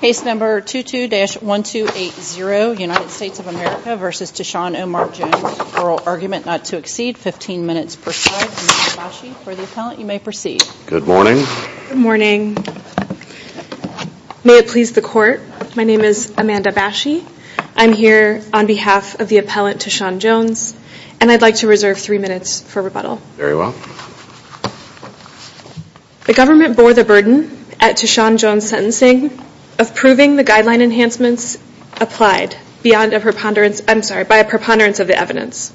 Case number 22-1280, United States of America v. T'Shaun Omar Jones, Oral Argument Not to Exceed, 15 minutes per side. Amanda Bashy for the appellant, you may proceed. Good morning. Good morning. May it please the court, my name is Amanda Bashy. I'm here on behalf of the appellant T'Shaun Jones, and I'd like to reserve 3 minutes for rebuttal. Very well. The government bore the burden at T'Shaun Jones' sentencing of proving the guideline enhancements applied beyond a preponderance, I'm sorry, by a preponderance of the evidence.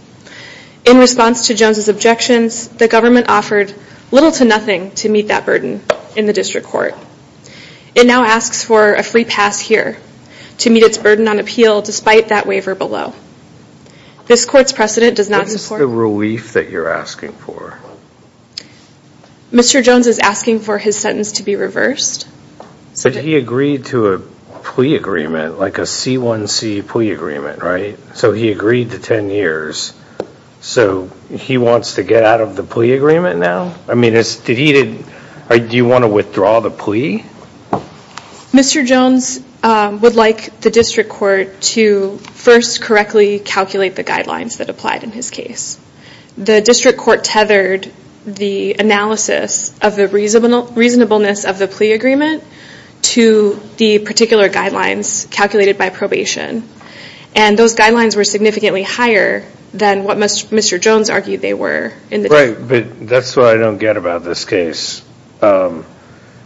In response to Jones' objections, the government offered little to nothing to meet that burden in the district court. It now asks for a free pass here to meet its burden on appeal despite that waiver below. This court's precedent does not support... What is the relief that you're asking for? Mr. Jones is asking for his sentence to be reversed. But he agreed to a plea agreement, like a C1C plea agreement, right? So he agreed to 10 years, so he wants to get out of the plea agreement now? I mean, it's...did he...do you want to withdraw the plea? Mr. Jones would like the district court to first correctly calculate the guidelines that applied in his case. The district court tethered the analysis of the reasonableness of the plea agreement to the particular guidelines calculated by probation, and those guidelines were significantly higher than what Mr. Jones argued they were. Right, but that's what I don't get about this case.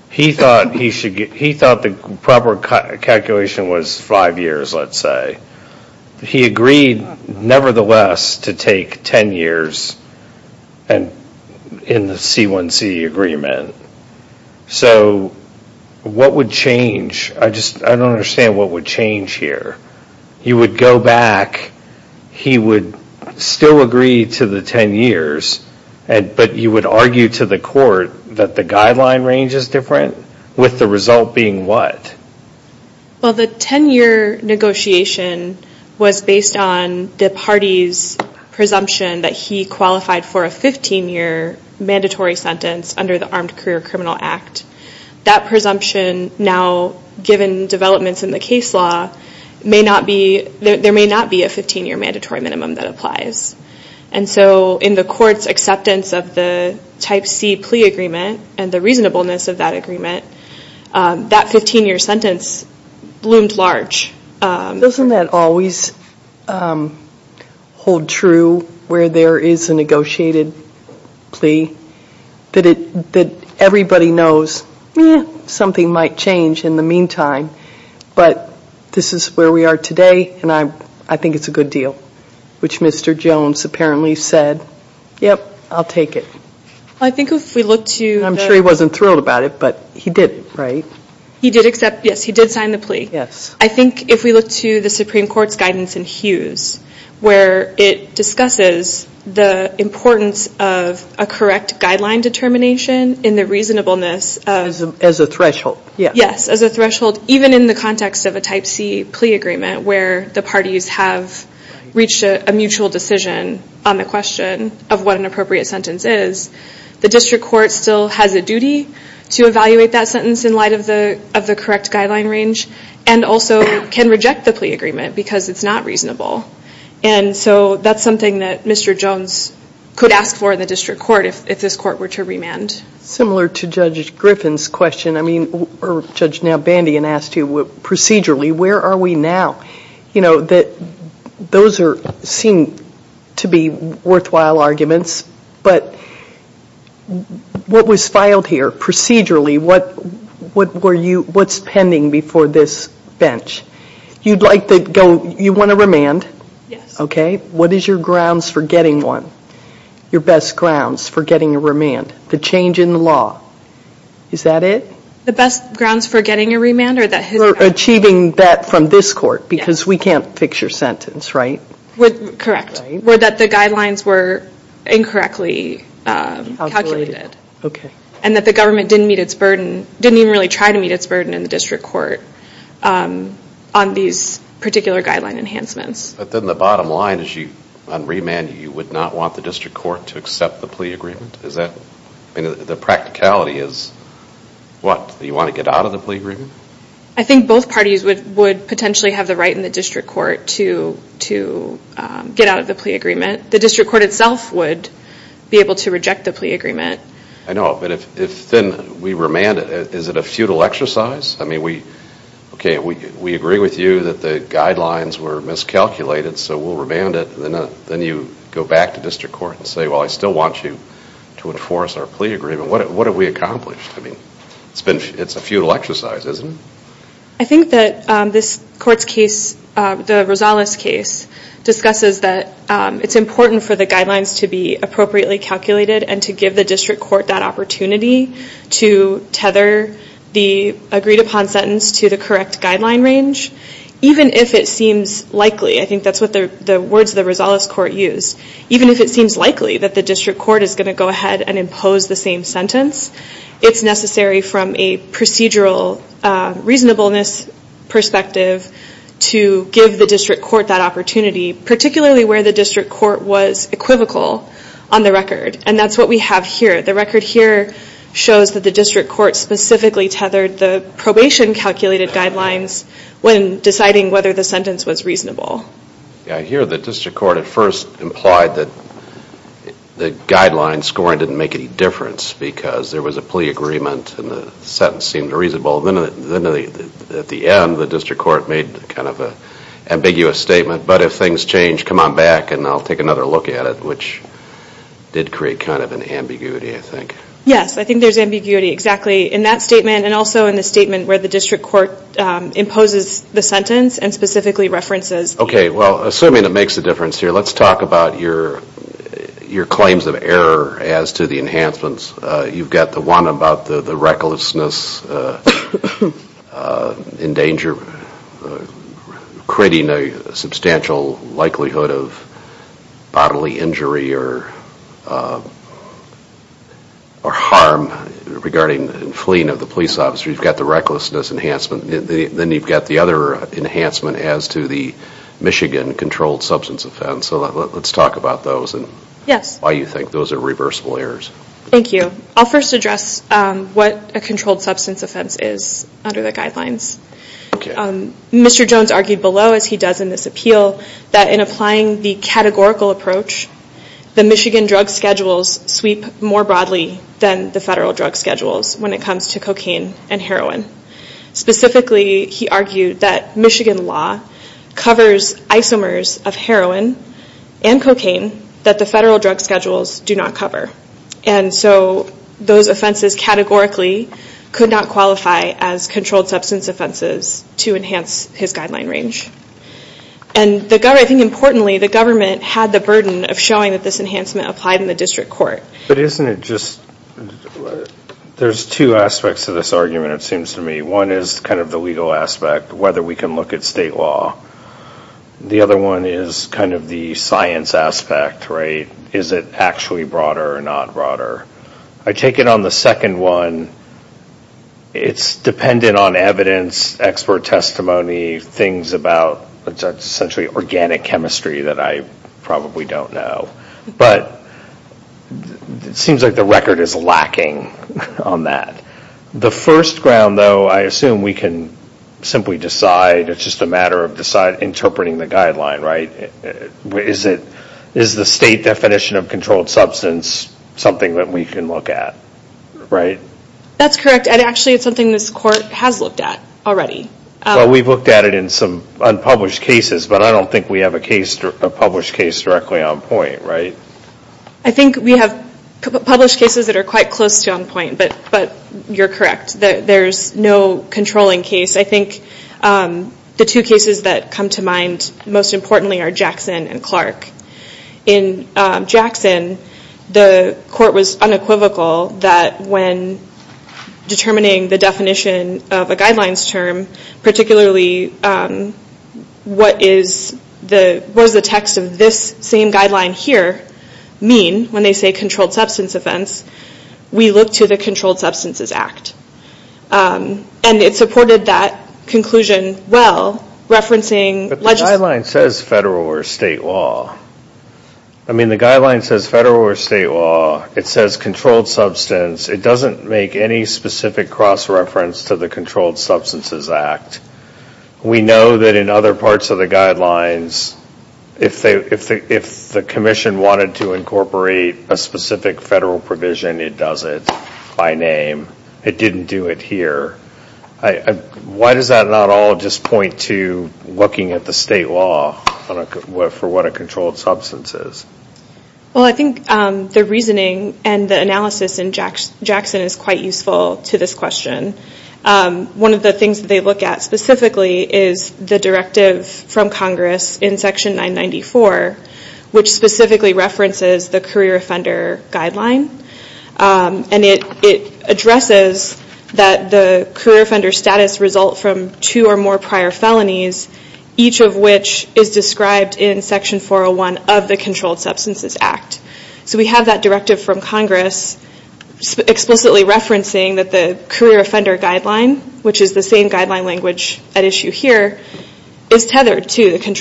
He thought he should get...he thought the proper calculation was five years, let's say. He agreed, nevertheless, to take 10 years and in the C1C agreement. So what would change? I just...I don't understand what would change here. He would go back, he would still agree to the 10 years, and but you would argue to the court that the guideline range is different, with the result being what? Well, the 10-year negotiation was based on the party's presumption that he qualified for a 15-year mandatory sentence under the Armed Career Criminal Act. That presumption now, given developments in the case law, may not be...there may not be a 15-year mandatory minimum that the Type C plea agreement and the reasonableness of that agreement, that 15-year sentence loomed large. Doesn't that always hold true where there is a negotiated plea? That it...that everybody knows, yeah, something might change in the meantime, but this is where we are today and I think it's a good deal, which Mr. Jones apparently said, yep, I'll take it. I think if we look to...I'm sure he wasn't thrilled about it, but he did, right? He did accept, yes, he did sign the plea. Yes. I think if we look to the Supreme Court's guidance in Hughes, where it discusses the importance of a correct guideline determination in the reasonableness of... As a threshold, yes. Yes, as a threshold, even in the context of a Type C plea agreement where the parties have reached a mutual decision on the question of what an appropriate sentence is, the district court still has a duty to evaluate that sentence in light of the correct guideline range and also can reject the plea agreement because it's not reasonable. And so that's something that Mr. Jones could ask for in the district court if this court were to remand. Similar to Judge Griffin's question, I mean, or Judge Nalbandian asked you, procedurally, where are we now? You know, those seem to be worthwhile arguments, but what was filed here procedurally, what's pending before this bench? You'd like to go...you want to remand? Yes. Okay, what is your grounds for getting one? Your best grounds for getting a remand? The change in the law, is that it? The best grounds for getting a remand or that... Achieving that from this court because we can't fix your sentence, right? Correct, were that the guidelines were incorrectly calculated. Okay. And that the government didn't meet its burden, didn't even really try to meet its burden in the district court on these particular guideline enhancements. But then the bottom line is you, on remand, you would not want the district court to accept the plea agreement? Is that...the practicality is what? You want to get out of the plea agreement? I think both parties would potentially have the right in the district court to get out of the plea agreement. The district court itself would be able to reject the plea agreement. I know, but if then we remand it, is it a futile exercise? I mean, we, okay, we agree with you that the guidelines were miscalculated, so we'll remand it. Then you go back to enforce our plea agreement. What have we accomplished? I mean, it's been, it's a futile exercise, isn't it? I think that this court's case, the Rosales case, discusses that it's important for the guidelines to be appropriately calculated and to give the district court that opportunity to tether the agreed-upon sentence to the correct guideline range, even if it seems likely. I think that's what the words of the Rosales court use. Even if it seems like the court is going to go ahead and impose the same sentence, it's necessary from a procedural reasonableness perspective to give the district court that opportunity, particularly where the district court was equivocal on the record, and that's what we have here. The record here shows that the district court specifically tethered the probation-calculated guidelines when deciding whether the sentence was reasonable. I hear the district court at the guideline scoring didn't make any difference because there was a plea agreement and the sentence seemed reasonable. Then at the end, the district court made kind of an ambiguous statement, but if things change, come on back and I'll take another look at it, which did create kind of an ambiguity, I think. Yes, I think there's ambiguity, exactly, in that statement and also in the statement where the district court imposes the sentence and specifically references. Okay, well, assuming it makes a difference here, let's talk about your claims of error as to the enhancements. You've got the one about the recklessness in danger, creating a substantial likelihood of bodily injury or harm regarding fleeing of the police officer. You've got the recklessness enhancement. Then you've got the other enhancement as to the why you think those are reversible errors. Thank you. I'll first address what a controlled substance offense is under the guidelines. Mr. Jones argued below, as he does in this appeal, that in applying the categorical approach, the Michigan drug schedules sweep more broadly than the federal drug schedules when it comes to cocaine and heroin. Specifically, he argued that Michigan law covers isomers of heroin and cocaine that the federal drug schedules do not cover. So those offenses categorically could not qualify as controlled substance offenses to enhance his guideline range. I think importantly, the government had the burden of showing that this enhancement applied in the district court. But isn't it just, there's two aspects to this argument, it seems to me. One is kind of the legal aspect, whether we can look at state law. The other one is kind of the science aspect, right? Is it actually broader or not broader? I take it on the second one, it's dependent on evidence, expert testimony, things about essentially organic chemistry that I probably don't know. But it seems like the record is simply decide, it's just a matter of interpreting the guideline, right? Is the state definition of controlled substance something that we can look at? Right? That's correct, and actually it's something this court has looked at already. Well, we've looked at it in some unpublished cases, but I don't think we have a published case directly on point, right? I think we have published cases that are quite close to on point, but you're correct. There's no controlling case. I think the two cases that come to mind most importantly are Jackson and Clark. In Jackson, the court was unequivocal that when determining the definition of a guidelines term, particularly what is the, what does the text of this same guideline here mean when they say controlled substance offense, we look to the Controlled Substances Act. And it supported that conclusion well, referencing... But the guideline says federal or state law. I mean the guideline says federal or state law, it says controlled substance, it doesn't make any specific cross-reference to the Controlled Substances Act. We know that in other parts of the guidelines, if the Commission wanted to provide a federal provision, it does it by name. It didn't do it here. Why does that not all just point to looking at the state law for what a controlled substance is? Well, I think the reasoning and the analysis in Jackson is quite useful to this question. One of the things that they look at specifically is the directive from Congress in Section 994, which specifically references the career offender guideline. And it addresses that the career offender status results from two or more prior felonies, each of which is described in Section 401 of the Controlled Substances Act. So we have that directive from Congress explicitly referencing that the career offender guideline, which is the same guideline language at issue here, is tethered to that. So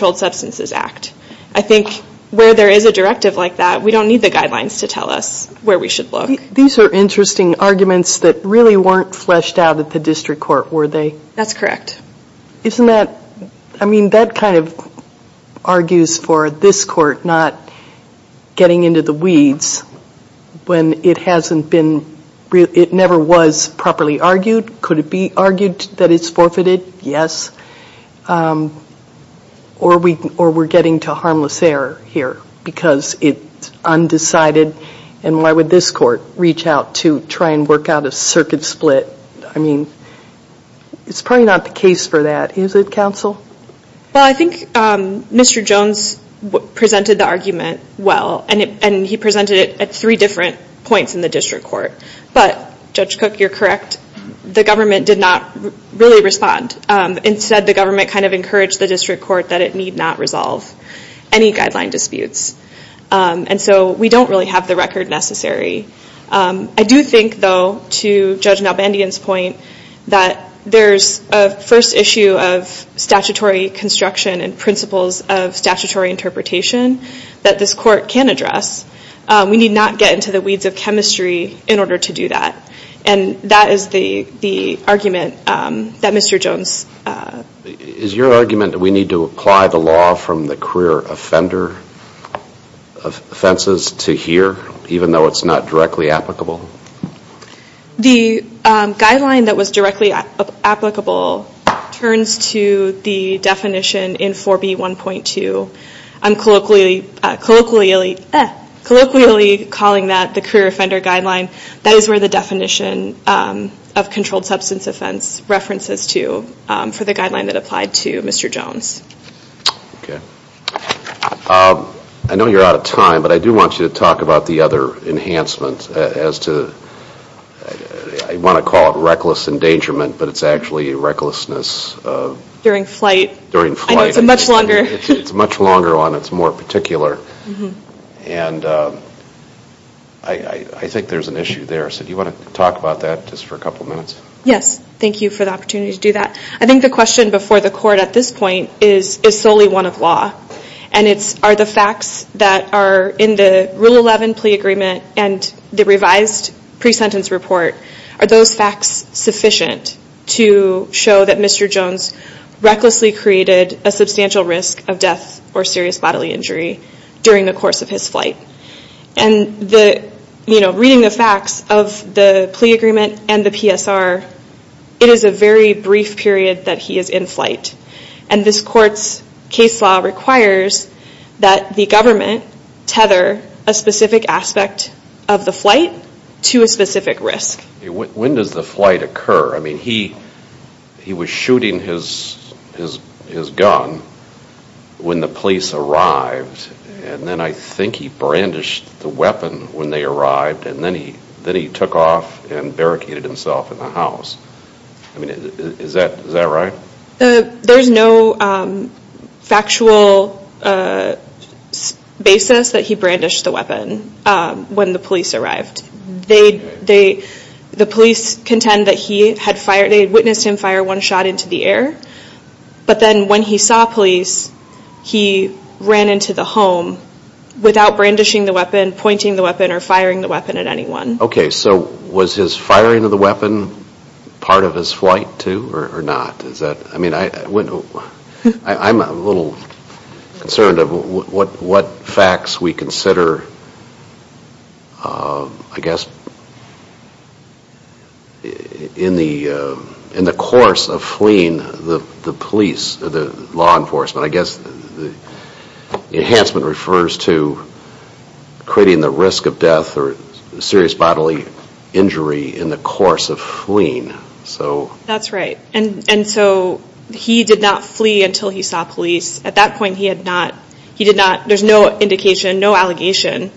as a directive like that, we don't need the guidelines to tell us where we should look. These are interesting arguments that really weren't fleshed out at the district court, were they? That's correct. Isn't that, I mean that kind of argues for this court not getting into the weeds when it hasn't been, it never was properly argued. Could it be argued that it's because it's undecided, and why would this court reach out to try and work out a circuit split? I mean, it's probably not the case for that, is it, counsel? Well, I think Mr. Jones presented the argument well, and he presented it at three different points in the district court. But, Judge Cook, you're correct, the government did not really respond. Instead, the government kind of encouraged the district court that it need not resolve any guideline disputes. And so we don't really have the record necessary. I do think, though, to Judge Nalbandian's point, that there's a first issue of statutory construction and principles of statutory interpretation that this court can address. We need not get into the weeds of chemistry in order to do that. And that is the argument that Mr. Jones... Is your argument that we need to apply the law from the career offender offenses to here, even though it's not directly applicable? The guideline that was directly applicable turns to the definition in 4B1.2. I'm colloquially calling that the career offender guideline. That is where the definition of controlled substance offense references to for the guideline that applied to Mr. Jones. Okay. I know you're out of time, but I do want you to talk about the other enhancements as to... I want to call it reckless endangerment, but it's actually recklessness... During flight. During flight. I know it's much longer. It's much longer on it's more particular. And I think there's an issue there. So do you want to talk about that just for a couple minutes? Yes. Thank you for the opportunity to do that. I think the question before the court at this point is solely one of law. And it's are the facts that are in the Rule 11 plea agreement and the revised pre-sentence report, are those facts sufficient to show that Mr. Jones... Recklessly created a substantial risk of death or serious bodily injury during the course of his flight. And reading the facts of the plea agreement and the PSR, it is a very brief period that he is in flight. And this court's case law requires that the government tether a specific aspect of the flight to a specific risk. When does the flight occur? I mean, he was shooting his gun when the police arrived. And then I think he brandished the weapon when they arrived. And then he took off and barricaded himself in the house. I mean, is that right? There's no factual basis that he brandished the weapon when the police arrived. The police contend that they witnessed him fire one shot into the air. But then when he saw police, he ran into the home without brandishing the weapon, pointing the weapon or firing the weapon at anyone. Okay, so was his firing of the weapon part of his flight, too, or not? I mean, I'm a little concerned of what facts we consider, I guess, in the course of fleeing the police, the law enforcement. I guess the enhancement refers to creating the risk of death or serious bodily injury in the course of fleeing. That's right. And so he did not flee until he saw police. At that point, there's no indication, no allegation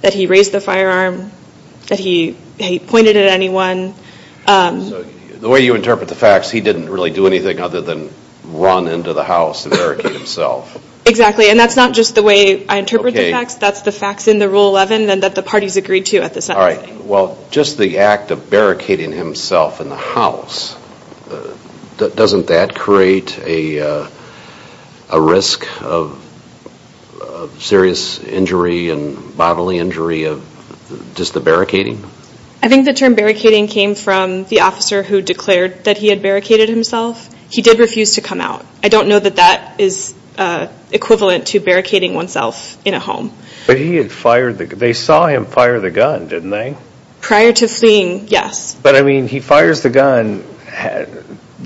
that he raised the firearm, that he pointed it at anyone. So the way you interpret the facts, he didn't really do anything other than run into the house and barricade himself. Exactly. And that's not just the way I interpret the facts. That's the facts in the Rule 11 that the parties agreed to at the time. Well, just the act of barricading himself in the house, doesn't that create a risk of serious injury and bodily injury of just the barricading? I think the term barricading came from the officer who declared that he had barricaded himself. He did refuse to come out. I don't know that that is equivalent to barricading oneself in a home. But he had fired, they saw him fire the gun, didn't they? Prior to fleeing, yes. But I mean, he fires the gun,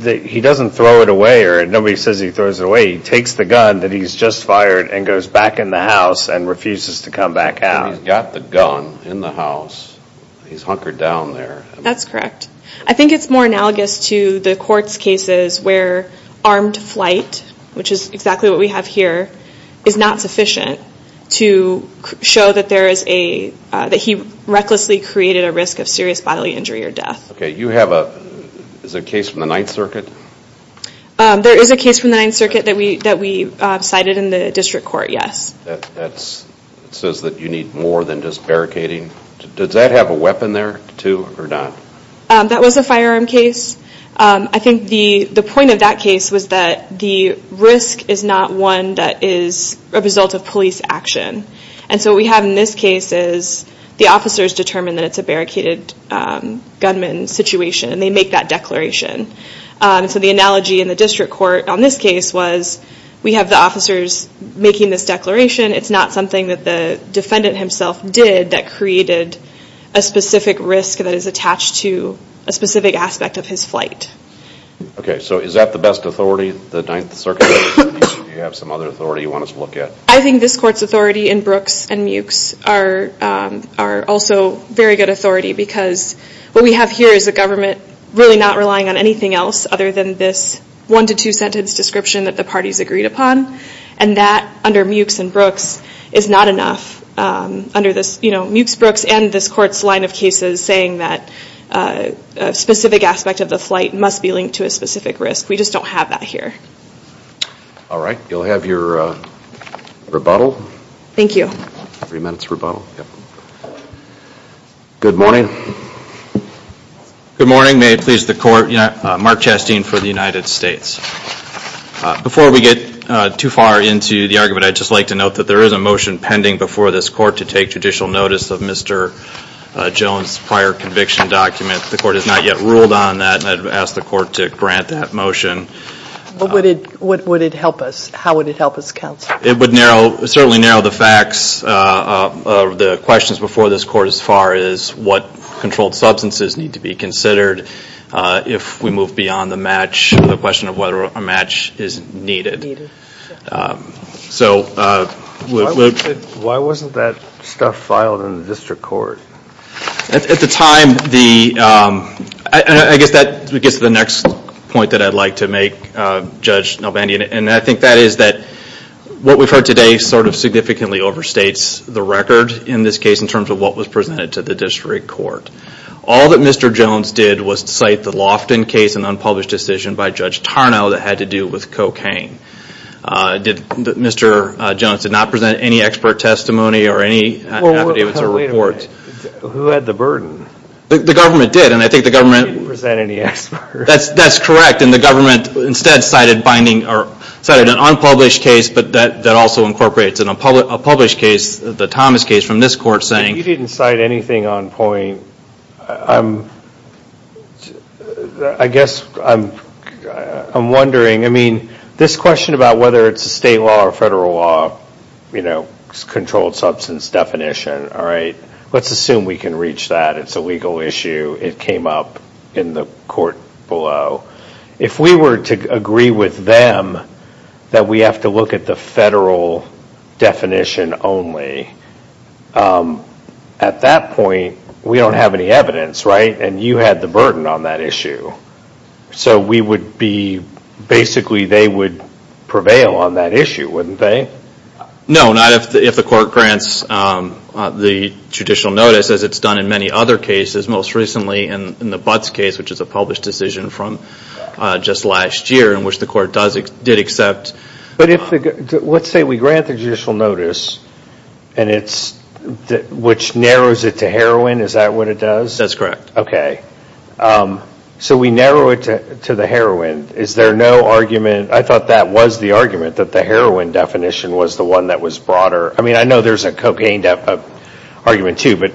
he doesn't throw it away, or nobody says he throws it away. He takes the gun that he's just fired and goes back in the house and refuses to come back out. But he's got the gun in the house, he's hunkered down there. That's correct. I think it's more analogous to the court's cases where armed flight, which is exactly what we have here, is not sufficient to show that he recklessly created a risk of serious bodily injury or death. Okay, you have a case from the Ninth Circuit? There is a case from the Ninth Circuit that we cited in the district court, yes. It says that you need more than just barricading. Does that have a weapon there, too, or not? That was a firearm case. I think the point of that case was that the risk is not one that is a result of police action. And so what we have in this case is the officers determine that it's a barricaded gunman situation, and they make that declaration. So the analogy in the district court on this case was we have the officers making this declaration. It's not something that the defendant himself did that created a specific risk that is attached to a specific aspect of his flight. Okay, so is that the best authority, the Ninth Circuit? Do you have some other authority you want us to look at? I think this court's authority in Brooks and Mewks are also very good authority because what we have here is a government really not relying on anything else other than this one- to two-sentence description that the parties agreed upon, and that under Mewks and Brooks is not enough under this Mewks, Brooks, and this court's line of cases saying that a specific aspect of the flight must be linked to a specific risk. We just don't have that here. All right, you'll have your rebuttal. Thank you. Three minutes rebuttal. Good morning. Good morning. May it please the court, Mark Chastain for the United States. Before we get too far into the argument, I'd just like to note that there is a motion pending before this court to take judicial notice of Mr. Jones' prior conviction document. The court has not yet ruled on that, and I'd ask the court to grant that motion. How would it help us, counsel? It would certainly narrow the facts of the questions before this court as far as what controlled substances need to be considered if we move beyond the question of whether a match is needed. Why wasn't that stuff filed in the district court? At the time, I guess that gets to the next point that I'd like to make, Judge Nalbandi, and I think that is that what we've heard today sort of significantly overstates the record in this case in terms of what was presented to the district court. All that Mr. Jones did was cite the Lofton case, an unpublished decision by Judge Tarnow that had to do with cocaine. Mr. Jones did not present any expert testimony or any evidence or report. Wait a minute. Who had the burden? The government did, and I think the government… He didn't present any expert. That's correct, and the government instead cited an unpublished case, but that also incorporates a published case, the Thomas case from this court saying… He didn't cite anything on point. I guess I'm wondering, I mean, this question about whether it's a state law or federal law, you know, controlled substance definition, all right, let's assume we can reach that. It's a legal issue. It came up in the court below. If we were to agree with them that we have to look at the federal definition only, at that point we don't have any evidence, right, and you had the burden on that issue. So we would be…basically they would prevail on that issue, wouldn't they? No, not if the court grants the judicial notice as it's done in many other cases. Most recently in the Butts case, which is a published decision from just last year in which the court did accept. But let's say we grant the judicial notice and it's which narrows it to heroin. Is that what it does? That's correct. Okay. So we narrow it to the heroin. Is there no argument? I thought that was the argument, that the heroin definition was the one that was broader. I mean, I know there's a cocaine argument too, but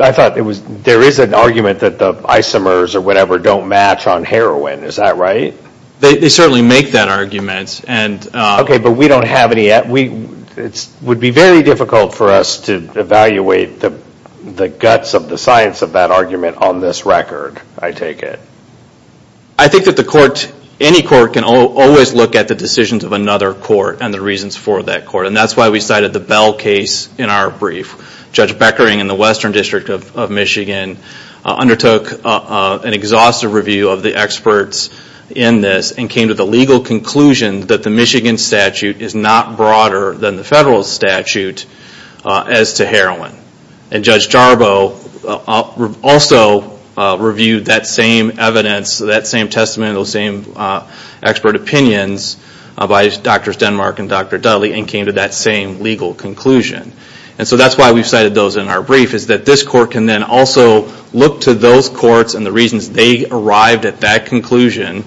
I thought there is an argument that the isomers or whatever don't match on heroin. Is that right? They certainly make that argument. Okay, but we don't have any. It would be very difficult for us to evaluate the guts of the science of that argument on this record, I take it. I think that the court, any court can always look at the decisions of another court and the reasons for that court. And that's why we cited the Bell case in our brief. Judge Beckering in the Western District of Michigan undertook an exhaustive review of the experts in this and came to the legal conclusion that the Michigan statute is not broader than the federal statute as to heroin. And Judge Jarbo also reviewed that same evidence, that same testament, those same expert opinions by Drs. Denmark and Dr. Dudley and came to that same legal conclusion. And so that's why we cited those in our brief, is that this court can then also look to those courts and the reasons they arrived at that conclusion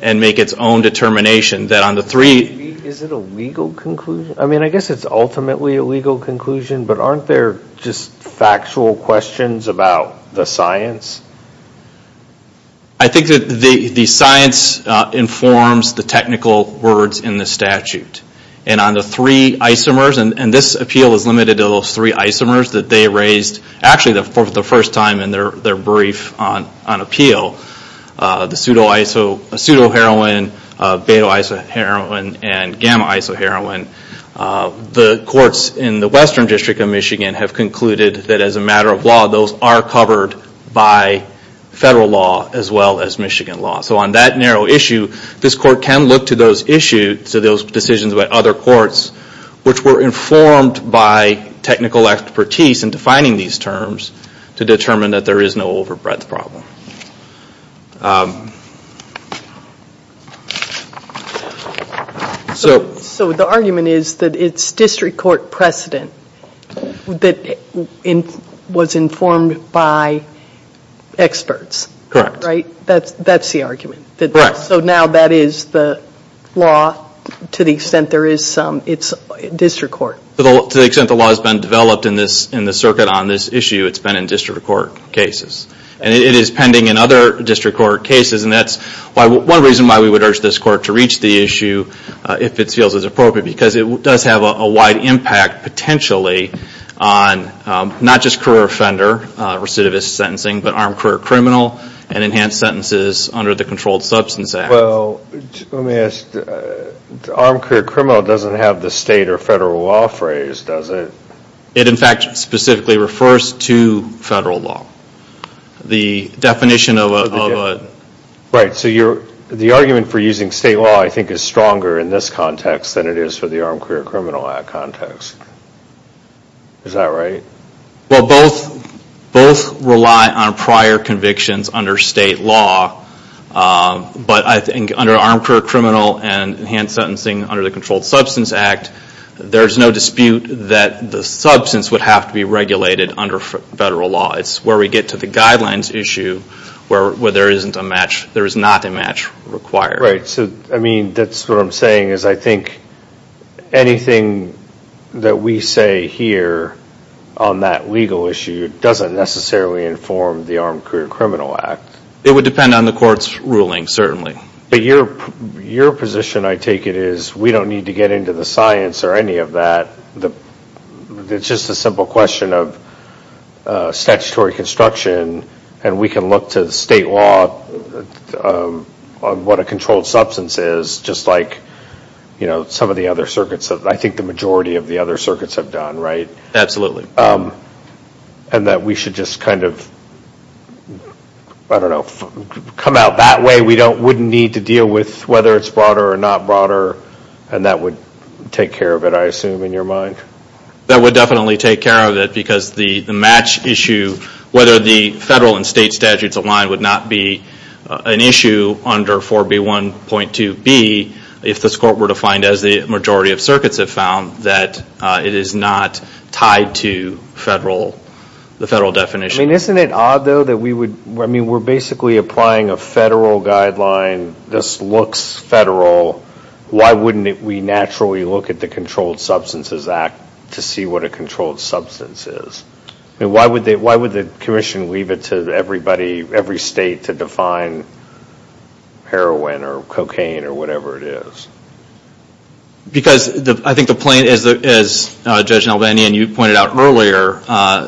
and make its own determination that on the three... Is it a legal conclusion? I mean, I guess it's ultimately a legal conclusion, but aren't there just factual questions about the science? I think that the science informs the technical words in the statute. And on the three isomers, and this appeal is limited to those three isomers that they raised, actually for the first time in their brief on appeal, the pseudo-heroin, beta-isoheroin, and gamma-isoheroin, the courts in the Western District of Michigan have concluded that as a matter of law, those are covered by federal law as well as Michigan law. So on that narrow issue, this court can look to those decisions by other courts which were informed by technical expertise in defining these terms to determine that there is no overbreadth problem. So... So the argument is that it's district court precedent that was informed by experts. Correct. Right? That's the argument. Correct. So now that is the law to the extent there is some, it's district court. To the extent the law has been developed in the circuit on this issue, it's been in district court cases. And it is pending in other district court cases, and that's one reason why we would urge this court to reach the issue if it feels it's appropriate, because it does have a wide impact potentially on not just career offender recidivist sentencing, but armed career criminal and enhanced sentences under the Controlled Substance Act. Well, let me ask, armed career criminal doesn't have the state or federal law phrase, does it? It, in fact, specifically refers to federal law. The definition of a... Right. So the argument for using state law I think is stronger in this context than it is for the armed career criminal act context. Is that right? Well, both rely on prior convictions under state law, but I think under armed career criminal and enhanced sentencing under the Controlled Substance Act, there's no dispute that the substance would have to be regulated under federal law. It's where we get to the guidelines issue where there is not a match required. Right. So, I mean, that's what I'm saying is I think anything that we say here on that legal issue doesn't necessarily inform the armed career criminal act. It would depend on the court's ruling, certainly. But your position, I take it, is we don't need to get into the science or any of that. It's just a simple question of statutory construction, and we can look to the state law on what a controlled substance is just like, you know, some of the other circuits. I think the majority of the other circuits have done, right? Absolutely. And that we should just kind of, I don't know, come out that way. We wouldn't need to deal with whether it's broader or not broader, and that would take care of it, I assume, in your mind. That would definitely take care of it because the match issue, whether the federal and state statutes align would not be an issue under 4B1.2b if this court were to find, as the majority of circuits have found, that it is not tied to the federal definition. I mean, isn't it odd, though, that we would, I mean, we're basically applying a federal guideline. This looks federal. Why wouldn't we naturally look at the Controlled Substances Act to see what a controlled substance is? I mean, why would the commission leave it to everybody, every state, to define heroin or cocaine or whatever it is? Because I think the plain, as Judge Nelvanian, you pointed out earlier,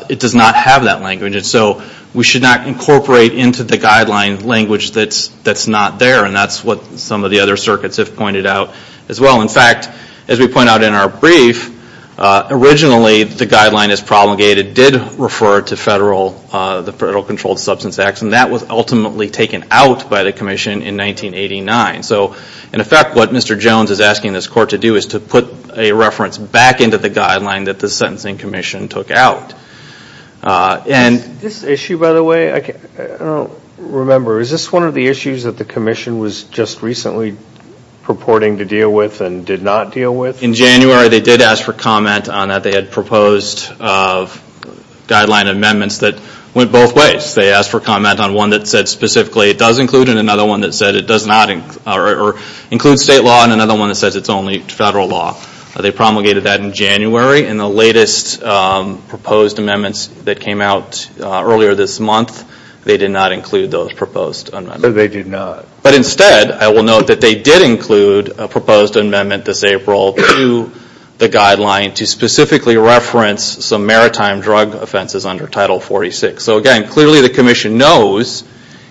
it does not have that language, and so we should not incorporate into the guideline language that's not there, and that's what some of the other circuits have pointed out as well. In fact, as we point out in our brief, originally the guideline as promulgated did refer to the Federal Controlled Substance Act, and that was ultimately taken out by the commission in 1989. So, in effect, what Mr. Jones is asking this court to do is to put a reference back into the guideline that the Sentencing Commission took out. This issue, by the way, I don't remember. Is this one of the issues that the commission was just recently purporting to deal with and did not deal with? In January, they did ask for comment on that. They had proposed guideline amendments that went both ways. They asked for comment on one that said specifically it does include and another one that said it does not include state law and another one that says it's only federal law. They promulgated that in January, and the latest proposed amendments that came out earlier this month, they did not include those proposed amendments. But instead, I will note that they did include a proposed amendment this April to the guideline to specifically reference some maritime drug offenses under Title 46. So, again, clearly the commission knows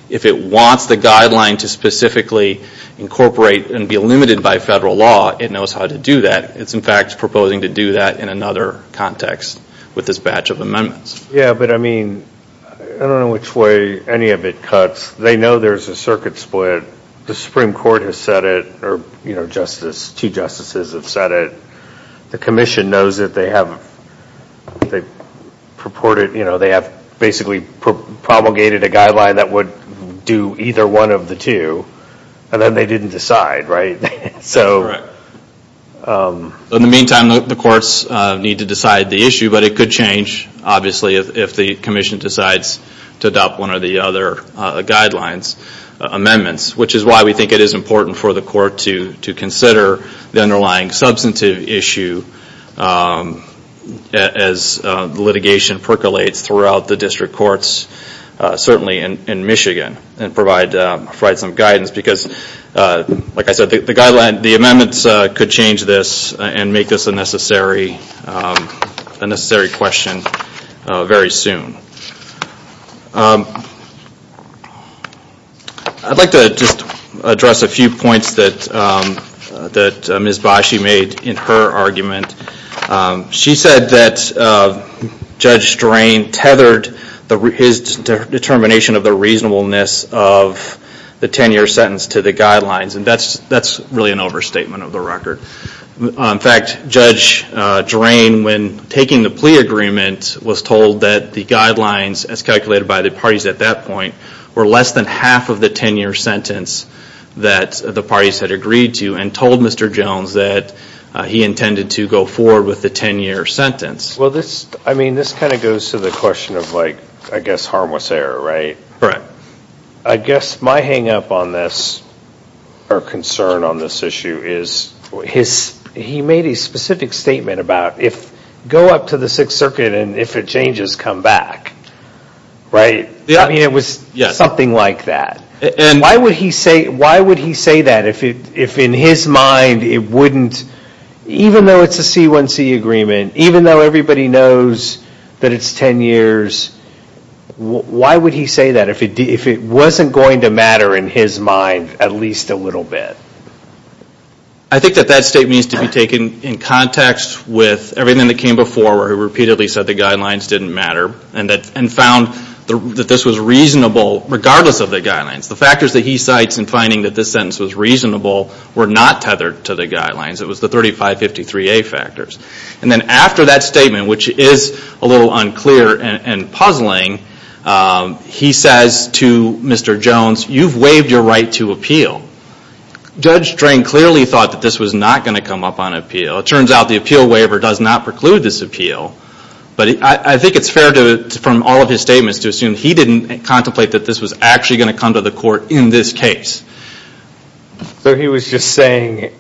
if it wants the guideline to specifically incorporate and be limited by federal law, it knows how to do that. It's, in fact, proposing to do that in another context with this batch of amendments. Yeah, but I mean I don't know which way any of it cuts. They know there's a circuit split. The Supreme Court has said it, or two justices have said it. The commission knows that they have basically promulgated a guideline that would do either one of the two, and then they didn't decide, right? In the meantime, the courts need to decide the issue, but it could change, obviously, if the commission decides to adopt one of the other guidelines amendments, which is why we think it is important for the court to consider the underlying substantive issue as litigation percolates throughout the district courts, certainly in Michigan, and provide some guidance because, like I said, the amendments could change this and make this a necessary question very soon. I'd like to just address a few points that Ms. Bashi made in her argument. She said that Judge Drain tethered his determination of the reasonableness of the 10-year sentence to the guidelines, and that's really an overstatement of the record. In fact, Judge Drain, when taking the plea agreement, was told that the guidelines, as calculated by the parties at that point, were less than half of the 10-year sentence that the parties had agreed to, and told Mr. Jones that he intended to go forward with the 10-year sentence. Well, this kind of goes to the question of, I guess, harmless error, right? I guess my hang-up on this, or concern on this issue, is he made a specific statement about, go up to the Sixth Circuit, and if it changes, come back, right? I mean, it was something like that. Why would he say that if in his mind it wouldn't, even though it's a C1C agreement, even though everybody knows that it's 10 years, why would he say that if it wasn't going to matter in his mind at least a little bit? I think that that statement needs to be taken in context with everything that came before, where he repeatedly said the guidelines didn't matter, and found that this was reasonable regardless of the guidelines. The factors that he cites in finding that this sentence was reasonable were not tethered to the guidelines. It was the 3553A factors. And then after that statement, which is a little unclear and puzzling, he says to Mr. Jones, you've waived your right to appeal. Judge Strang clearly thought that this was not going to come up on appeal. It turns out the appeal waiver does not preclude this appeal. But I think it's fair from all of his statements to assume he didn't contemplate that this was actually going to come to the court in this case. So he was just saying,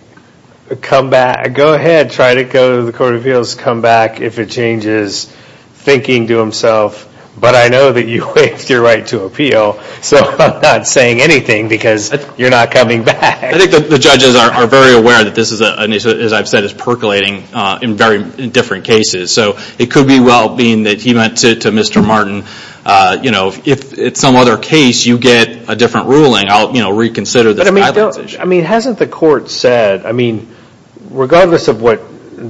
go ahead, try to go to the court of appeals, come back if it changes, thinking to himself, but I know that you waived your right to appeal, so I'm not saying anything because you're not coming back. I think the judges are very aware that this is, as I've said, this is percolating in very different cases. So it could be well being that he went to Mr. Martin. If it's some other case, you get a different ruling, I'll reconsider this guidance issue. I mean, hasn't the court said, I mean, regardless of what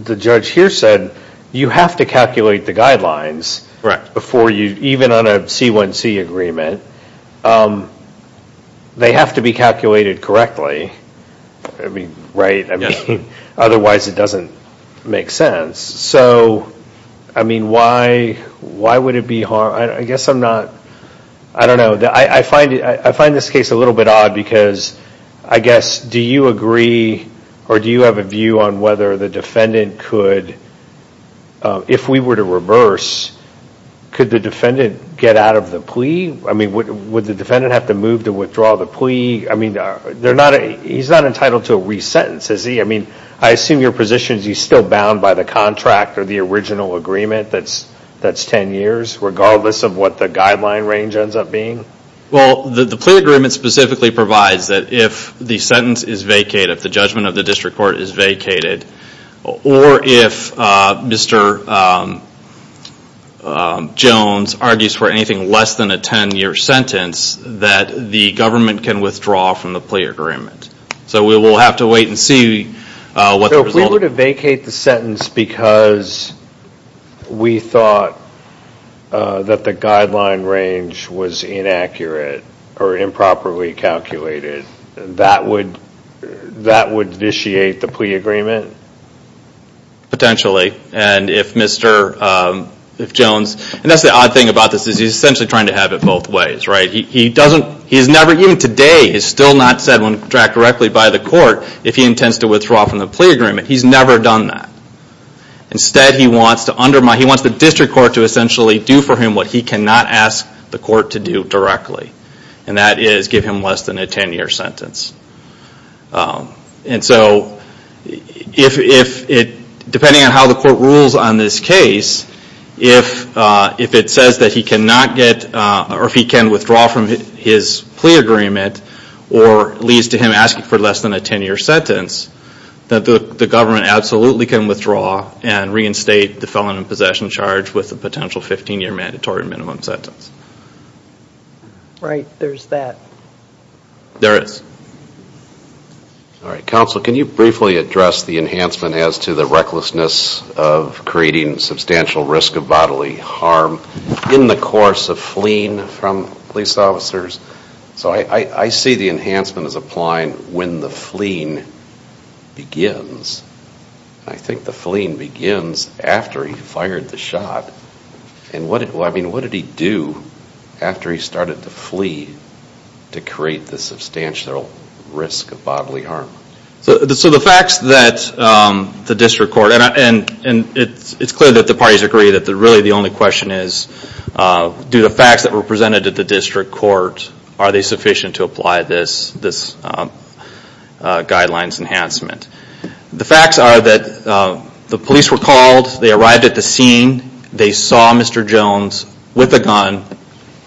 the judge here said, you have to calculate the guidelines before you, even on a C1C agreement, they have to be calculated correctly, right? I mean, otherwise it doesn't make sense. So, I mean, why would it be hard? I guess I'm not, I don't know, I find this case a little bit odd because I guess, do you agree or do you have a view on whether the defendant could, if we were to reverse, could the defendant get out of the plea? I mean, would the defendant have to move to withdraw the plea? I mean, he's not entitled to a re-sentence, is he? I mean, I assume your position is he's still bound by the contract or the original agreement that's ten years, regardless of what the guideline range ends up being? Well, the plea agreement specifically provides that if the sentence is vacated, if the judgment of the district court is vacated, or if Mr. Jones argues for anything less than a ten-year sentence, that the government can withdraw from the plea agreement. So we will have to wait and see what the result is. So if we were to vacate the sentence because we thought that the guideline range was inaccurate or improperly calculated, that would vitiate the plea agreement? Potentially. And if Mr. Jones, and that's the odd thing about this, is he's essentially trying to have it both ways, right? Even today, it's still not said on the contract directly by the court if he intends to withdraw from the plea agreement. He's never done that. Instead, he wants the district court to essentially do for him what he cannot ask the court to do directly, and that is give him less than a ten-year sentence. And so, depending on how the court rules on this case, if it says that he cannot get or if he can withdraw from his plea agreement or leads to him asking for less than a ten-year sentence, that the government absolutely can withdraw and reinstate the felon in possession charge with a potential 15-year mandatory minimum sentence. Right. There's that. There is. All right. Counsel, can you briefly address the enhancement as to the recklessness of creating substantial risk of bodily harm in the course of fleeing from police officers? So I see the enhancement as applying when the fleeing begins. I think the fleeing begins after he fired the shot. I mean, what did he do after he started to flee to create the substantial risk of bodily harm? So the facts that the district court and it's clear that the parties agree that really the only question is, do the facts that were presented to the district court, are they sufficient to apply this guidelines enhancement? The facts are that the police were called, they arrived at the scene, they saw Mr. Jones with a gun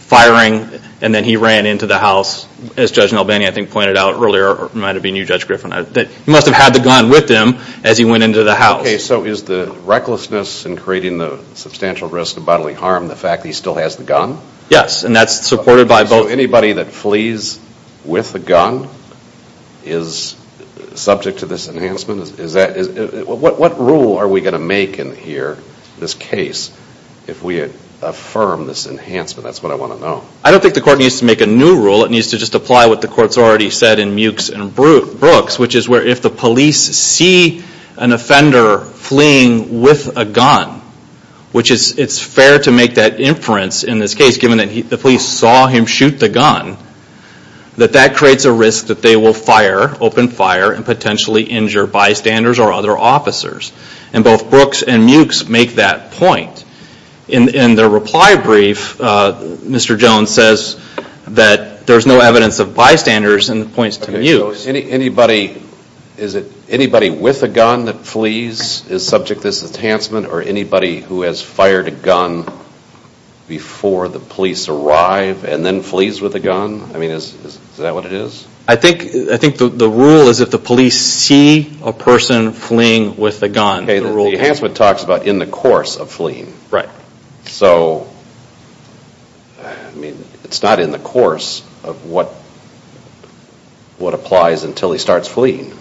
firing, and then he ran into the house, as Judge Nalbany I think pointed out earlier, or it might have been you, Judge Griffin, that he must have had the gun with him as he went into the house. Okay. So is the recklessness in creating the substantial risk of bodily harm the fact that he still has the gun? Yes, and that's supported by both. So anybody that flees with a gun is subject to this enhancement? What rule are we going to make in here, this case, if we affirm this enhancement? That's what I want to know. I don't think the court needs to make a new rule. It needs to just apply what the court's already said in Mewkes and Brooks, which is where if the police see an offender fleeing with a gun, which it's fair to make that inference in this case, given that the police saw him shoot the gun, that that creates a risk that they will fire, open fire, and potentially injure bystanders or other officers. And both Brooks and Mewkes make that point. In their reply brief, Mr. Jones says that there's no evidence of bystanders and points to Mewkes. So is it anybody with a gun that flees is subject to this enhancement? Or anybody who has fired a gun before the police arrive and then flees with a gun? I mean, is that what it is? I think the rule is if the police see a person fleeing with a gun. The enhancement talks about in the course of fleeing. Right. So, I mean, it's not in the course of what applies until he starts fleeing.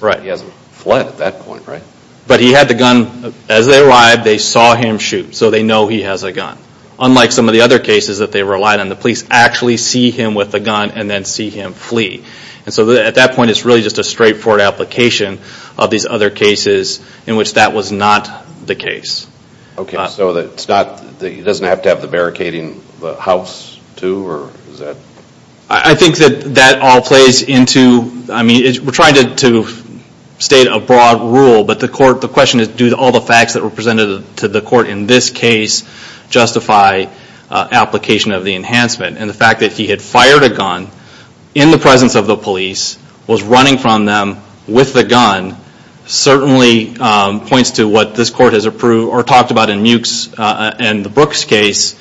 Right. He hasn't fled at that point, right? But he had the gun. As they arrived, they saw him shoot. So they know he has a gun. Unlike some of the other cases that they relied on, the police actually see him with a gun and then see him flee. And so at that point, it's really just a straightforward application of these other cases in which that was not the case. Okay. So it's not that he doesn't have to have the barricade in the house, too? Or is that? I think that that all plays into, I mean, we're trying to state a broad rule, but the question is do all the facts that were presented to the court in this case justify application of the enhancement? And the fact that he had fired a gun in the presence of the police, was running from them with the gun, certainly points to what this court has approved or talked about in Muke's and the Brooks' case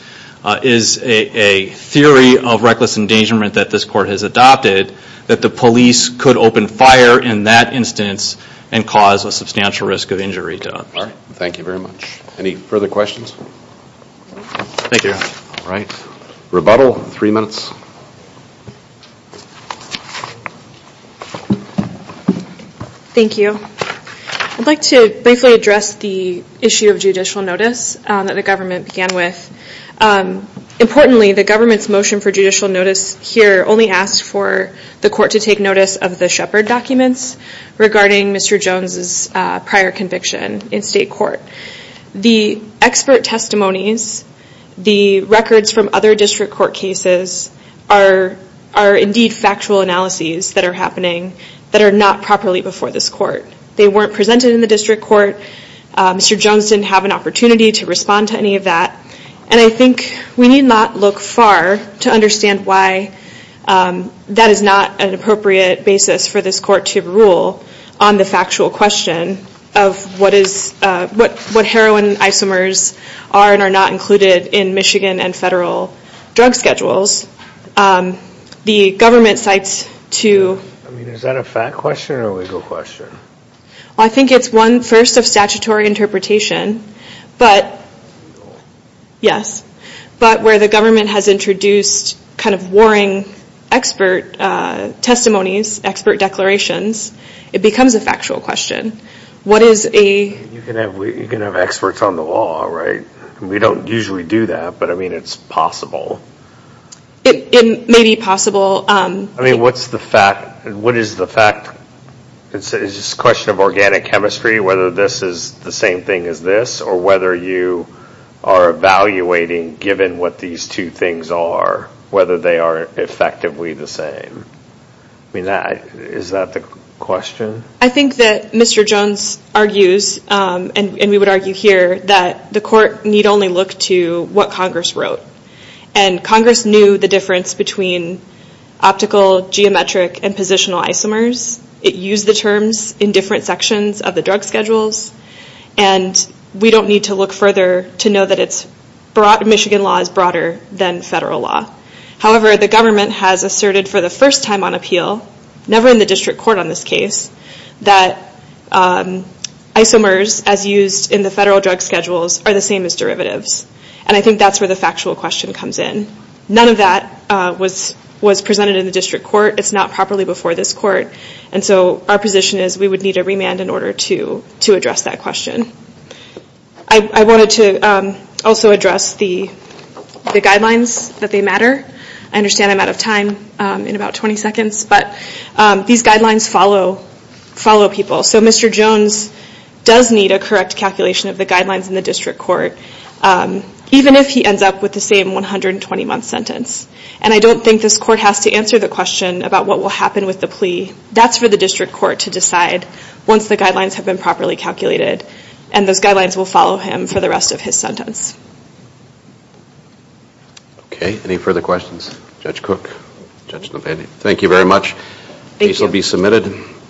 is a theory of reckless endangerment that this court has adopted, that the police could open fire in that instance and cause a substantial risk of injury. All right. Thank you very much. Any further questions? Thank you. All right. Rebuttal in three minutes. Thank you. I'd like to briefly address the issue of judicial notice that the government began with. Importantly, the government's motion for judicial notice here only asked for the court to take notice of the Shepard documents regarding Mr. Jones' prior conviction in state court. The expert testimonies, the records from other district court cases are indeed factual analyses that are happening that are not properly before this court. They weren't presented in the district court. Mr. Jones didn't have an opportunity to respond to any of that. And I think we need not look far to understand why that is not an appropriate basis for this court to rule on the factual question of what heroin isomers are and are not included in Michigan and federal drug schedules. The government cites to... I mean, is that a fact question or a legal question? I think it's one, first, of statutory interpretation. But... Yes. But where the government has introduced kind of warring expert testimonies, expert declarations, it becomes a factual question. What is a... You can have experts on the law, right? We don't usually do that, but, I mean, it's possible. It may be possible. I mean, what's the fact... What is the fact... Is this a question of organic chemistry, whether this is the same thing as this, or whether you are evaluating, given what these two things are, whether they are effectively the same? I mean, is that the question? I think that Mr. Jones argues, and we would argue here, that the court need only look to what Congress wrote. And Congress knew the difference between optical, geometric, and positional isomers. It used the terms in different sections of the drug schedules. And we don't need to look further to know that Michigan law is broader than federal law. However, the government has asserted for the first time on appeal, never in the district court on this case, that isomers, as used in the federal drug schedules, are the same as derivatives. And I think that's where the factual question comes in. None of that was presented in the district court. It's not properly before this court. And so our position is we would need a remand in order to address that question. I wanted to also address the guidelines, that they matter. I understand I'm out of time in about 20 seconds, but these guidelines follow people. So Mr. Jones does need a correct calculation of the guidelines in the district court, even if he ends up with the same 120-month sentence. And I don't think this court has to answer the question about what will happen with the plea. That's for the district court to decide once the guidelines have been properly calculated. And those guidelines will follow him for the rest of his sentence. Okay. Any further questions? Judge Cook, Judge Novandy, thank you very much. Case will be submitted.